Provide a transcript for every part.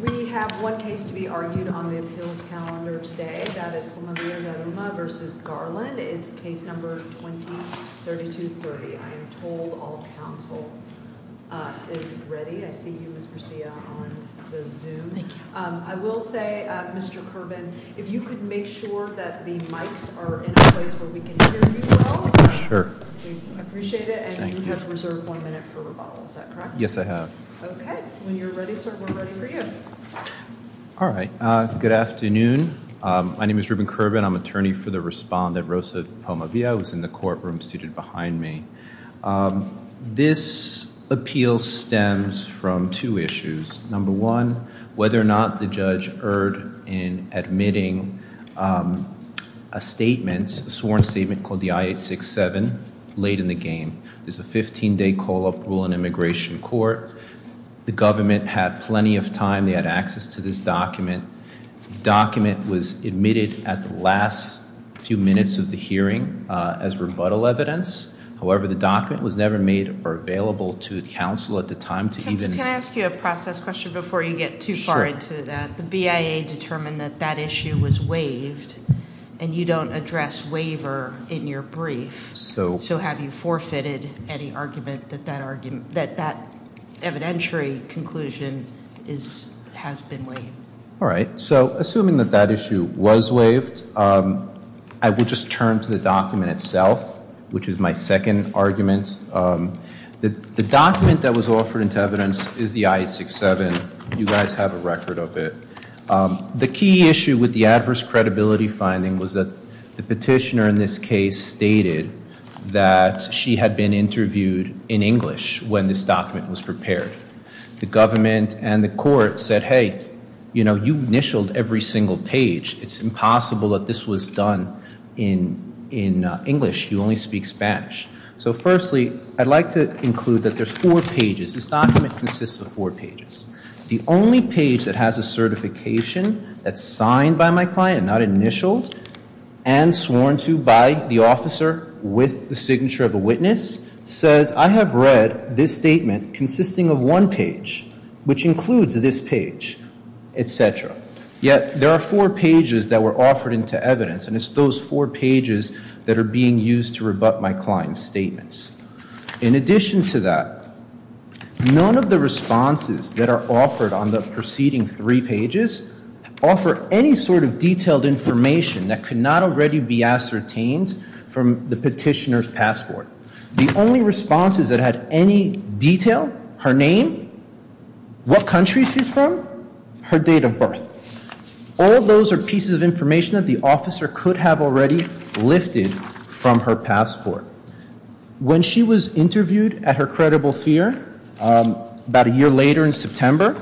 We have one case to be argued on the appeals calendar today. That is Komavilla-Zaruma v. Garland. It's case number 20-3230. I am told all counsel is ready. I see you, Ms. Garcia, on the Zoom. I will say, Mr. Curban, if you could make sure that the mics are in a place where we can hear you well. Sure. We appreciate it. And you have reserved one minute for rebuttal. Is that correct? Yes, I have. Okay. When you're ready, sir, we're ready for you. All right. Good afternoon. My name is Ruben Curban. I'm attorney for the respondent, Rosa Pomavilla, who's in the courtroom seated behind me. This appeal stems from two issues. Number one, whether or not the judge erred in admitting a statement, a sworn statement, called the I-867 late in the game. There's a 15-day call-up rule in immigration court. The government had plenty of time. They had access to this document. The document was admitted at the last few minutes of the hearing as rebuttal evidence. However, the document was never made available to counsel at the time. Counsel, can I ask you a process question before you get too far into that? Sure. The BIA determined that that issue was waived, and you don't address waiver in your brief. So have you forfeited any argument that that evidentiary conclusion has been waived? All right. So assuming that that issue was waived, I will just turn to the document itself, which is my second argument. The document that was offered into evidence is the I-867. You guys have a record of it. The key issue with the adverse credibility finding was that the petitioner in this case stated that she had been interviewed in English when this document was prepared. The government and the court said, hey, you know, you've initialed every single page. It's impossible that this was done in English. You only speak Spanish. So firstly, I'd like to include that there's four pages. This document consists of four pages. The only page that has a certification that's signed by my client, not initialed, and sworn to by the officer with the signature of a witness, says I have read this statement consisting of one page, which includes this page, et cetera. Yet there are four pages that were offered into evidence, and it's those four pages that are being used to rebut my client's statements. In addition to that, none of the responses that are offered on the preceding three pages offer any sort of detailed information that could not already be ascertained from the petitioner's passport. The only responses that had any detail, her name, what country she's from, her date of birth, all of those are pieces of information that the officer could have already lifted from her passport. When she was interviewed at her credible fear, about a year later in September,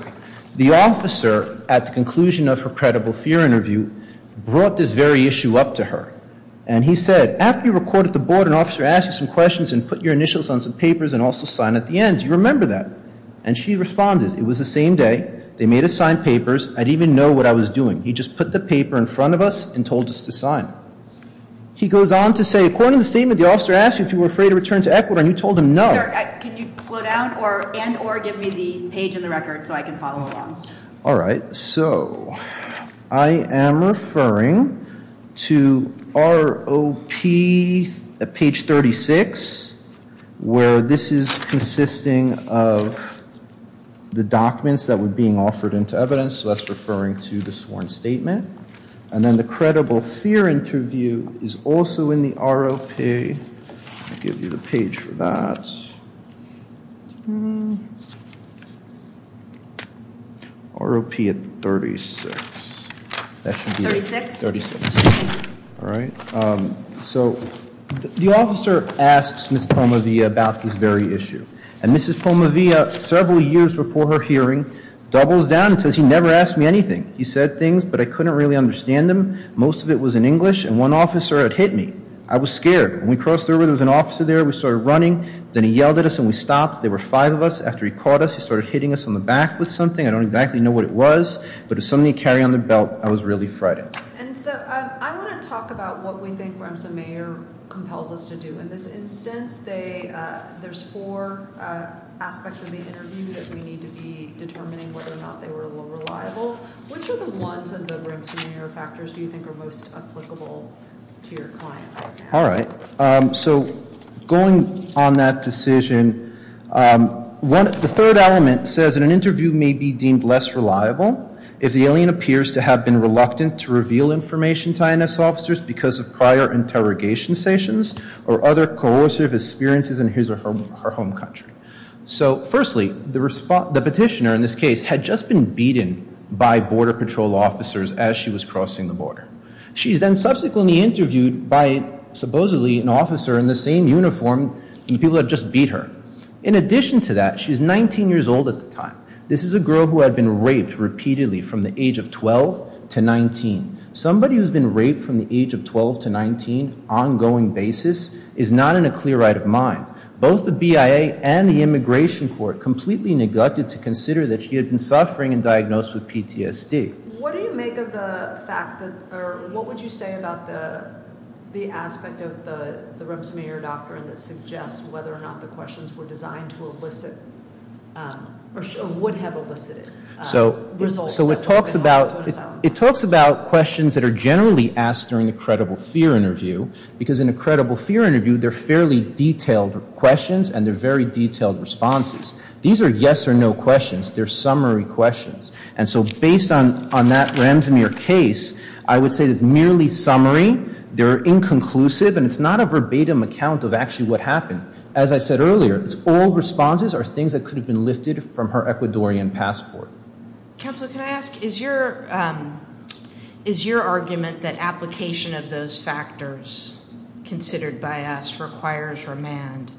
the officer, at the conclusion of her credible fear interview, brought this very issue up to her. And he said, after you recorded the board, an officer asked you some questions and put your initials on some papers and also signed at the end. Do you remember that? And she responded, it was the same day, they made us sign papers, I didn't even know what I was doing. He just put the paper in front of us and told us to sign. He goes on to say, according to the statement, the officer asked you if you were afraid to return to Ecuador and you told him no. Sir, can you slow down and or give me the page in the record so I can follow along? All right. So, I am referring to ROP page 36, where this is consisting of the documents that were being offered into evidence, so that's referring to the sworn statement. And then the credible fear interview is also in the ROP. I'll give you the page for that. ROP at 36. That should be it. 36? 36. All right. So, the officer asks Ms. Pomovia about this very issue. And Mrs. Pomovia, several years before her hearing, doubles down and says, he never asked me anything. He said things, but I couldn't really understand them. Most of it was in English, and one officer had hit me. I was scared. When we crossed the river, there was an officer there. We started running. Then he yelled at us and we stopped. There were five of us. After he caught us, he started hitting us on the back with something. I don't exactly know what it was, but it was something he carried on his belt. I was really frightened. And so, I want to talk about what we think Remsa Mayer compels us to do. In this instance, there's four aspects of the interview that we need to be determining whether or not they were reliable. Which of the ones of the Remsa Mayer factors do you think are most applicable to your client? All right. So, going on that decision, the third element says, an interview may be deemed less reliable if the alien appears to have been reluctant to reveal information to INS officers because of prior interrogation sessions or other coercive experiences in his or her home country. So, firstly, the petitioner in this case had just been beaten by Border Patrol officers as she was crossing the border. She is then subsequently interviewed by, supposedly, an officer in the same uniform and people had just beat her. In addition to that, she's 19 years old at the time. This is a girl who had been raped repeatedly from the age of 12 to 19. Somebody who's been raped from the age of 12 to 19, ongoing basis, is not in a clear right of mind. Both the BIA and the immigration court completely neglected to consider that she had been suffering and diagnosed with PTSD. What do you make of the fact that, or what would you say about the aspect of the Remsa Mayer doctrine that suggests whether or not the questions were designed to elicit, or would have elicited results? So, it talks about questions that are generally asked during a credible fear interview because in a credible fear interview, they're fairly detailed questions and they're very detailed responses. These are yes or no questions. They're summary questions. And so, based on that Ramsamir case, I would say it's merely summary. They're inconclusive and it's not a verbatim account of actually what happened. As I said earlier, all responses are things that could have been lifted from her Ecuadorian passport. Counsel, can I ask, is your argument that application of those factors considered by us requires remand?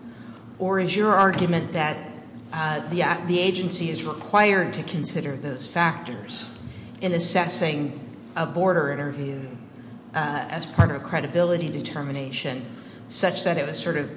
Or is your argument that the agency is required to consider those factors in assessing a border interview as part of a credibility determination, such that it was sort of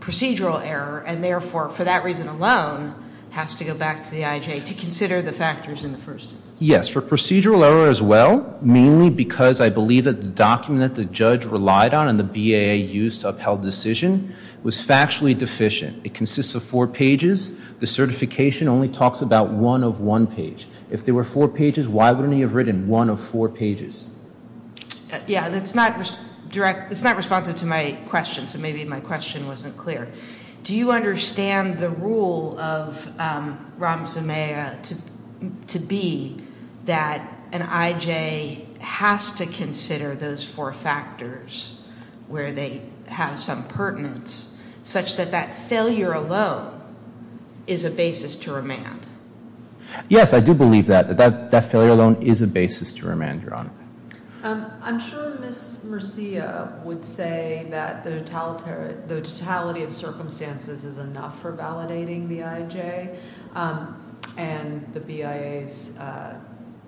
procedural error, and therefore, for that reason alone, has to go back to the IJA to consider the factors in the first instance? Yes, for procedural error as well, mainly because I believe that the document that the judge relied on and the BAA used to upheld the decision was factually deficient. It consists of four pages. The certification only talks about one of one page. If there were four pages, why wouldn't he have written one of four pages? Yeah, that's not direct, that's not responsive to my question, so maybe my question wasn't clear. Do you understand the rule of Ramasamea to be that an IJA has to consider those four factors where they have some pertinence, such that that failure alone is a basis to remand? Yes, I do believe that, that that failure alone is a basis to remand, Your Honor. I'm sure Ms. Murcia would say that the totality of circumstances is enough for validating the IJA and the BIA's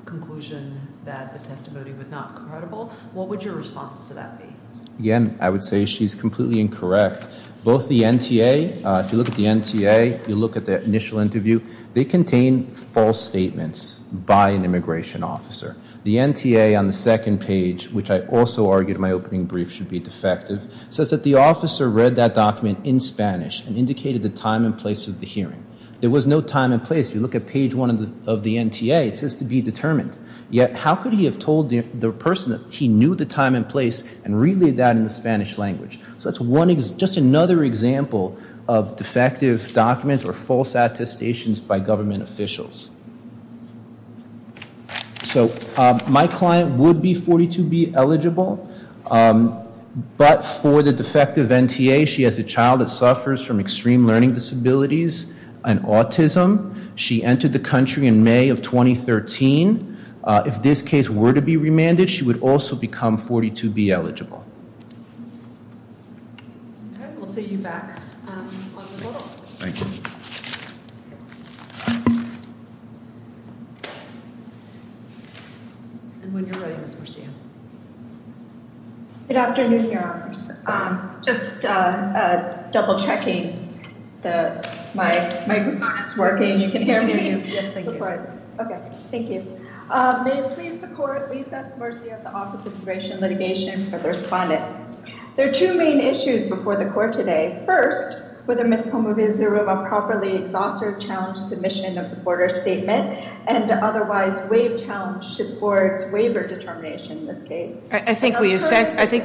conclusion that the testimony was not credible. What would your response to that be? Again, I would say she's completely incorrect. Both the NTA, if you look at the NTA, you look at the initial interview, they contain false statements by an immigration officer. The NTA on the second page, which I also argued in my opening brief should be defective, says that the officer read that document in Spanish and indicated the time and place of the hearing. There was no time and place. If you look at page one of the NTA, it says to be determined. Yet, how could he have told the person that he knew the time and place and relayed that in the Spanish language? So that's just another example of defective documents or false attestations by government officials. So my client would be 42B eligible, but for the defective NTA, she has a child that suffers from extreme learning disabilities and autism. She entered the country in May of 2013. If this case were to be remanded, she would also become 42B eligible. Okay, we'll see you back on the floor. Thank you. And when you're ready, Ms. Murcia. Good afternoon, Your Honors. Just double-checking my microphone is working. You can hear me? Yes, thank you. Okay, thank you. May it please the Court, please ask the Murcia of the Office of Immigration Litigation for the respondent. There are two main issues before the Court today. First, whether Ms. Pomovia Zeruba properly thought or challenged the mission of the Border Statement and otherwise waived challenge to the Board's waiver determination in this case. I think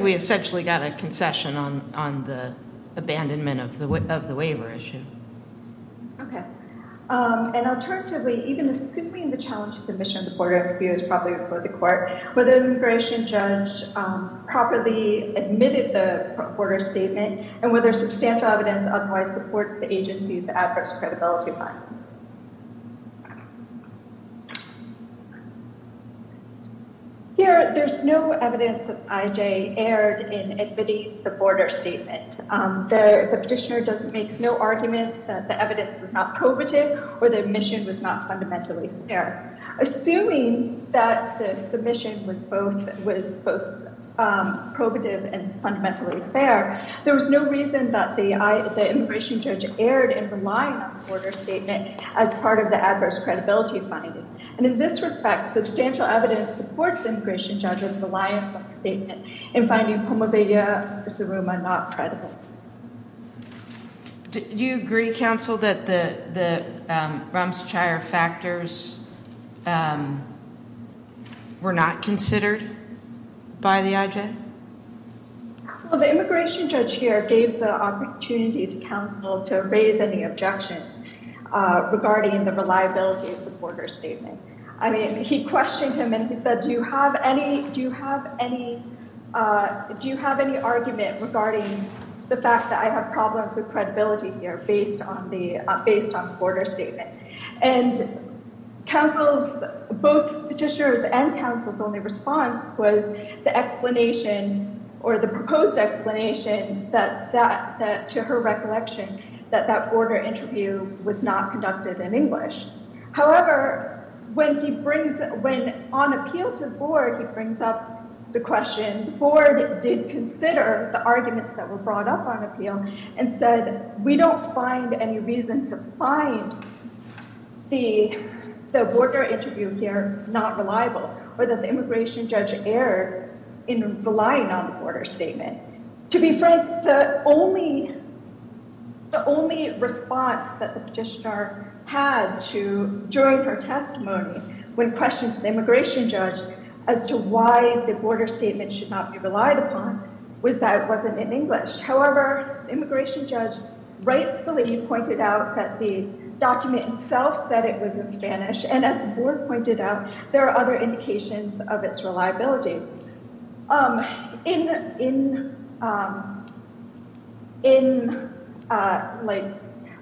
we essentially got a concession on the abandonment of the waiver issue. Okay. And alternatively, even assuming the challenge to the mission of the Border Review is properly before the Court, whether the immigration judge properly admitted the Border Statement and whether substantial evidence otherwise supports the agency's Adverse Credibility Fund. Here, there's no evidence that I.J. erred in admitting the Border Statement. The petitioner makes no arguments that the evidence was not probative or the admission was not fundamentally fair. Assuming that the submission was both probative and fundamentally fair, there was no reason that the immigration judge erred in relying on the Border Statement as part of the Adverse Credibility Fund. And in this respect, substantial evidence supports the immigration judge's reliance on the statement in finding Pomovia Zeruba not credible. Do you agree, counsel, that the Ramseychire factors were not considered by the I.J.? Well, the immigration judge here gave the opportunity to counsel to raise any objections regarding the reliability of the Border Statement. I mean, he questioned him and he said, do you have any argument regarding the fact that I have problems with credibility here based on the Border Statement? And both petitioners and counsel's only response was the explanation or the proposed explanation to her recollection that that border interview was not conducted in English. However, when on appeal to the board, he brings up the question, the board did consider the arguments that were brought up on appeal and said, we don't find any reason to find the border interview here not reliable or that the immigration judge erred in relying on the Border Statement. To be frank, the only response that the petitioner had during her testimony when questioned to the immigration judge as to why the Border Statement should not be relied upon was that it wasn't in English. However, the immigration judge rightfully pointed out that the document itself said it was in Spanish and as the board pointed out, there are other indications of its reliability.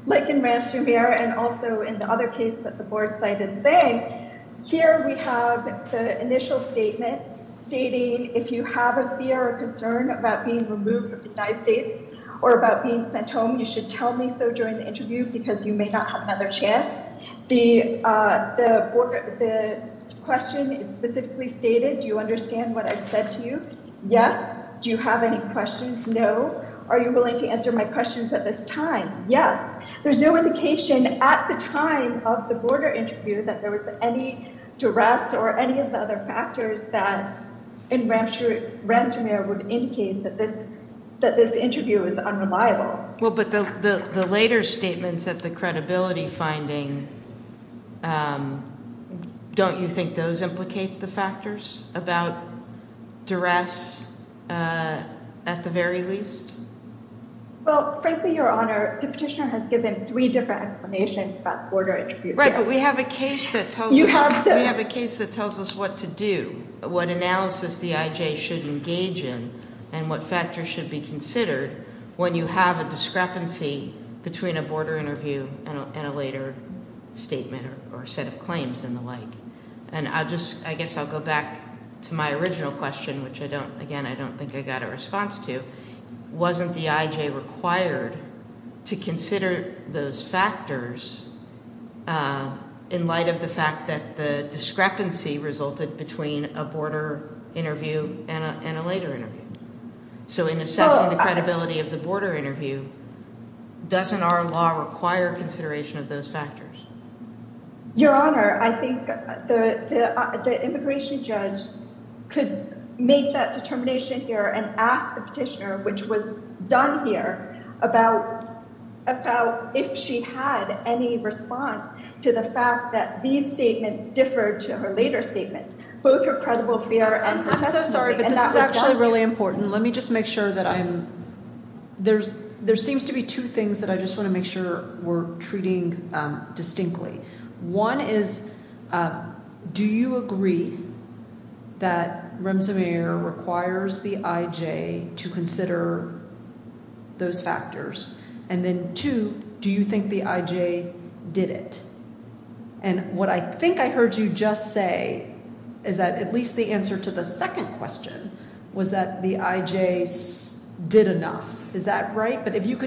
Like in Rancho Verde and also in the other case that the board cited saying, here we have the initial statement stating, if you have a fear or concern about being removed from the United States or about being sent home, you should tell me so during the interview because you may not have another chance. The question specifically stated, do you understand what I said to you? Yes. Do you have any questions? No. Are you willing to answer my questions at this time? Yes. There's no indication at the time of the border interview that there was any duress or any of the other factors that in Rancho Verde would indicate that this interview is unreliable. Well, but the later statements at the credibility finding, don't you think those implicate the factors about duress at the very least? Well, frankly, Your Honor, the petitioner has given three different explanations about border interviews. Right, but we have a case that tells us what to do, what analysis the IJ should engage in and what factors should be considered when you have a discrepancy between a border interview and a later statement or set of claims and the like. And I guess I'll go back to my original question, which again, I don't think I got a response to. Wasn't the IJ required to consider those factors in light of the fact that the discrepancy resulted between a border interview and a later interview? So in assessing the credibility of the border interview, doesn't our law require consideration of those factors? Your Honor, I think the immigration judge could make that determination here and ask the petitioner, which was done here, about if she had any response to the fact that these statements differed to her later statements, both her credible fear and her testimony. I'm so sorry, but this is actually really important. Let me just make sure that I'm – there seems to be two things that I just want to make sure we're treating distinctly. One is, do you agree that Remsemaier requires the IJ to consider those factors? And then two, do you think the IJ did it? And what I think I heard you just say is that at least the answer to the second question was that the IJ did enough. Is that right? But if you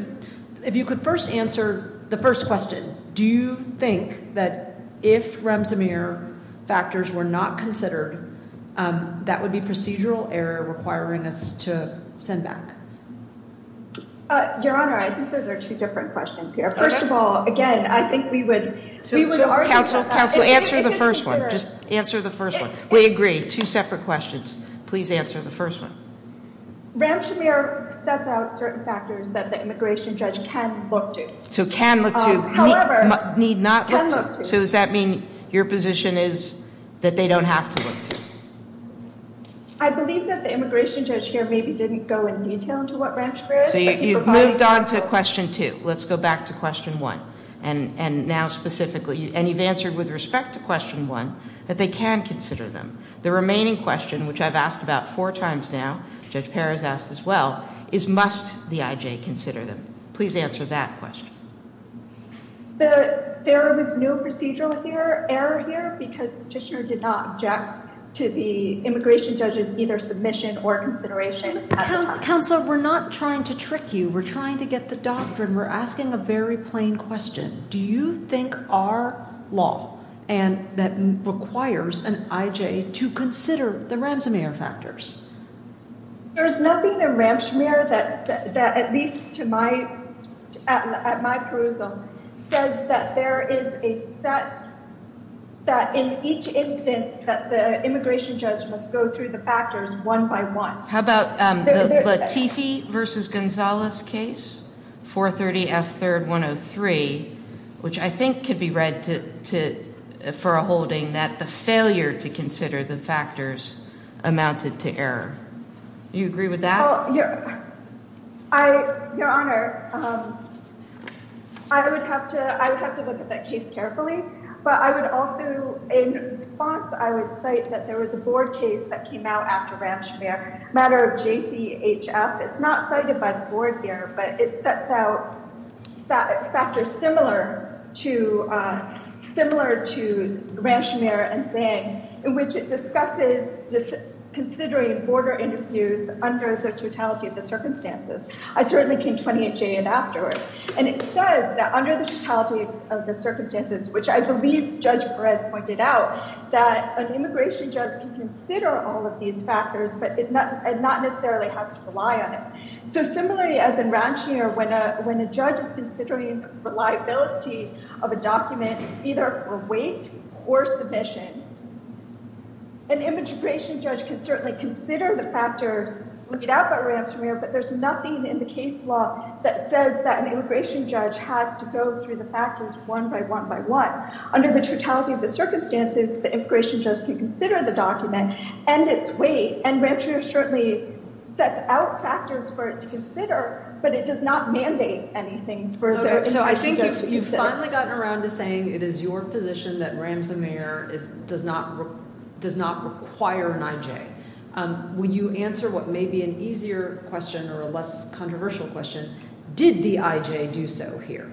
could first answer the first question, do you think that if Remsemaier factors were not considered, that would be procedural error requiring us to send back? Your Honor, I think those are two different questions here. First of all, again, I think we would argue about that. Counsel, answer the first one. Just answer the first one. We agree, two separate questions. Please answer the first one. Remsemaier sets out certain factors that the immigration judge can look to. So can look to. However. Need not look to. Can look to. So does that mean your position is that they don't have to look to? I believe that the immigration judge here maybe didn't go in detail into what Remsemaier is. So you've moved on to question two. Let's go back to question one. And now specifically – and you've answered with respect to question one that they can consider them. The remaining question, which I've asked about four times now, Judge Perez asked as well, is must the IJ consider them? Please answer that question. There was no procedural error here because the petitioner did not object to the immigration judge's either submission or consideration. Counsel, we're not trying to trick you. We're trying to get the doctrine. We're asking a very plain question. Do you think our law and that requires an IJ to consider the Remsemaier factors? There's nothing in Remsemaier that at least to my – at my perusal says that there is a set – that in each instance that the immigration judge must go through the factors one by one. How about the Latifi v. Gonzalez case, 430 F. 3rd, 103, which I think could be read to – for a holding that the failure to consider the factors amounted to error. Do you agree with that? Well, Your Honor, I would have to – I would have to look at that case carefully, but I would also – in response, I would cite that there was a board case that came out after Remsemaier, a matter of JCHF. It's not cited by the board here, but it sets out factors similar to – similar to Remsemaier in saying – in which it discusses considering border interviews under the totality of the circumstances. I certainly can't 28J it afterwards. And it says that under the totality of the circumstances, which I believe Judge Perez pointed out, that an immigration judge can consider all of these factors, but not necessarily have to rely on it. So similarly as in Ramsemaier, when a judge is considering reliability of a document, either for weight or submission, an immigration judge can certainly consider the factors laid out by Ramsemaier, but there's nothing in the case law that says that an immigration judge has to go through the factors one by one by one. Under the totality of the circumstances, the immigration judge can consider the document and its weight, and Ramsemaier certainly sets out factors for it to consider, but it does not mandate anything further. So I think you've finally gotten around to saying it is your position that Ramsemaier does not – does not require an IJ. Will you answer what may be an easier question or a less controversial question? Did the IJ do so here?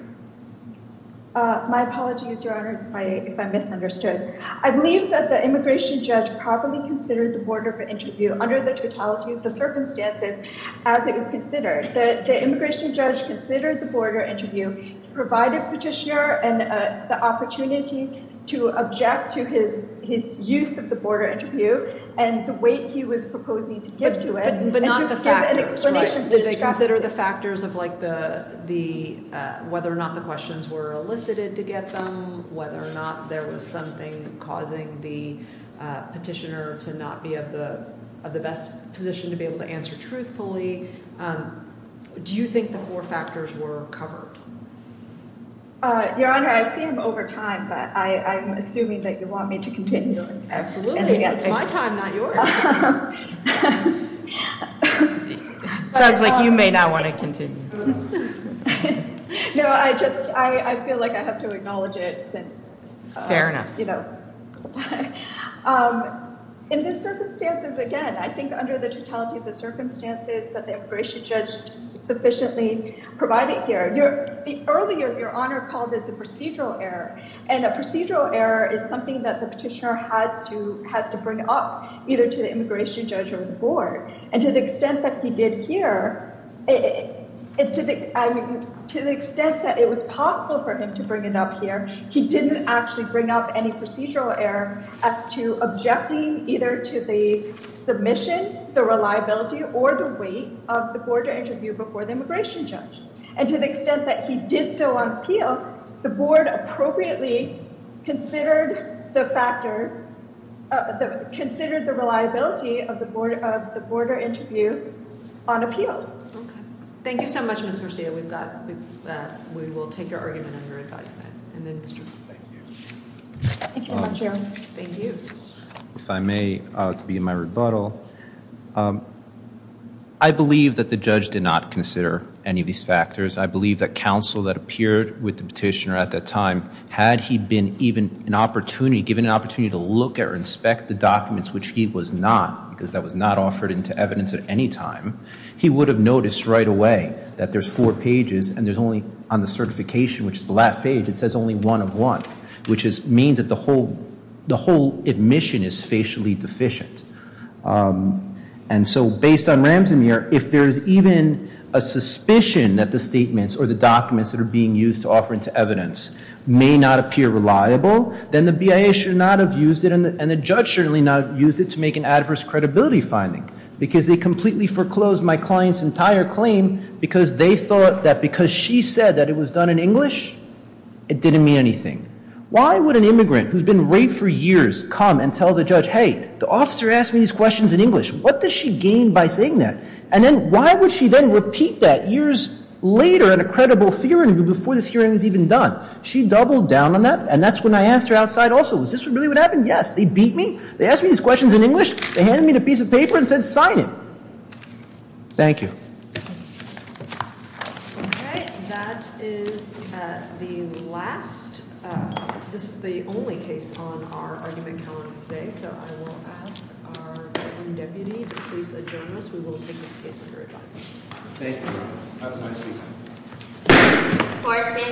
My apologies, Your Honors, if I misunderstood. I believe that the immigration judge properly considered the border of an interview under the totality of the circumstances as it was considered. The immigration judge considered the border interview, provided Petitioner the opportunity to object to his use of the border interview and the weight he was proposing to give to it. But not the factors, right? Did they consider the factors of whether or not the questions were elicited to get them, whether or not there was something causing the petitioner to not be of the best position to be able to answer truthfully? Do you think the four factors were covered? Your Honor, I've seen them over time, but I'm assuming that you want me to continue. Absolutely. It's my time, not yours. Sounds like you may not want to continue. No, I just – I feel like I have to acknowledge it since – Fair enough. In these circumstances, again, I think under the totality of the circumstances that the immigration judge sufficiently provided here, the earlier Your Honor called it a procedural error. And a procedural error is something that the petitioner has to bring up either to the immigration judge or the board. And to the extent that he did here, to the extent that it was possible for him to bring it up here, he didn't actually bring up any procedural error as to objecting either to the submission, the reliability, or the weight of the border interview before the immigration judge. And to the extent that he did so on appeal, the board appropriately considered the factor – considered the reliability of the border interview on appeal. Okay. Thank you so much, Ms. Murcia. We've got – we will take your argument under advisement. Thank you. Thank you very much, Your Honor. Thank you. If I may, to be in my rebuttal, I believe that the judge did not consider any of these factors. I believe that counsel that appeared with the petitioner at that time, had he been even an opportunity – given an opportunity to look at or inspect the documents, which he was not because that was not offered into evidence at any time, he would have noticed right away that there's four pages and there's only – on the certification, which is the last page, it says only one of one, which means that the whole – the whole admission is facially deficient. And so based on Ramsamir, if there's even a suspicion that the statements or the documents that are being used to offer into evidence may not appear reliable, then the BIA should not have used it and the judge should not have used it to make an adverse credibility finding. Because they completely foreclosed my client's entire claim because they thought that because she said that it was done in English, it didn't mean anything. Why would an immigrant who's been raped for years come and tell the judge, hey, the officer asked me these questions in English? What does she gain by saying that? And then why would she then repeat that years later in a credible theory before this hearing was even done? She doubled down on that and that's when I asked her outside also, was this really what happened? Yes, they beat me. They asked me these questions in English. They handed me the piece of paper and said, sign it. Thank you. Okay, that is the last. This is the only case on our argument calendar today, so I will ask our Deputy to please adjourn us. We will take this case under advisement. Thank you. Have a nice weekend.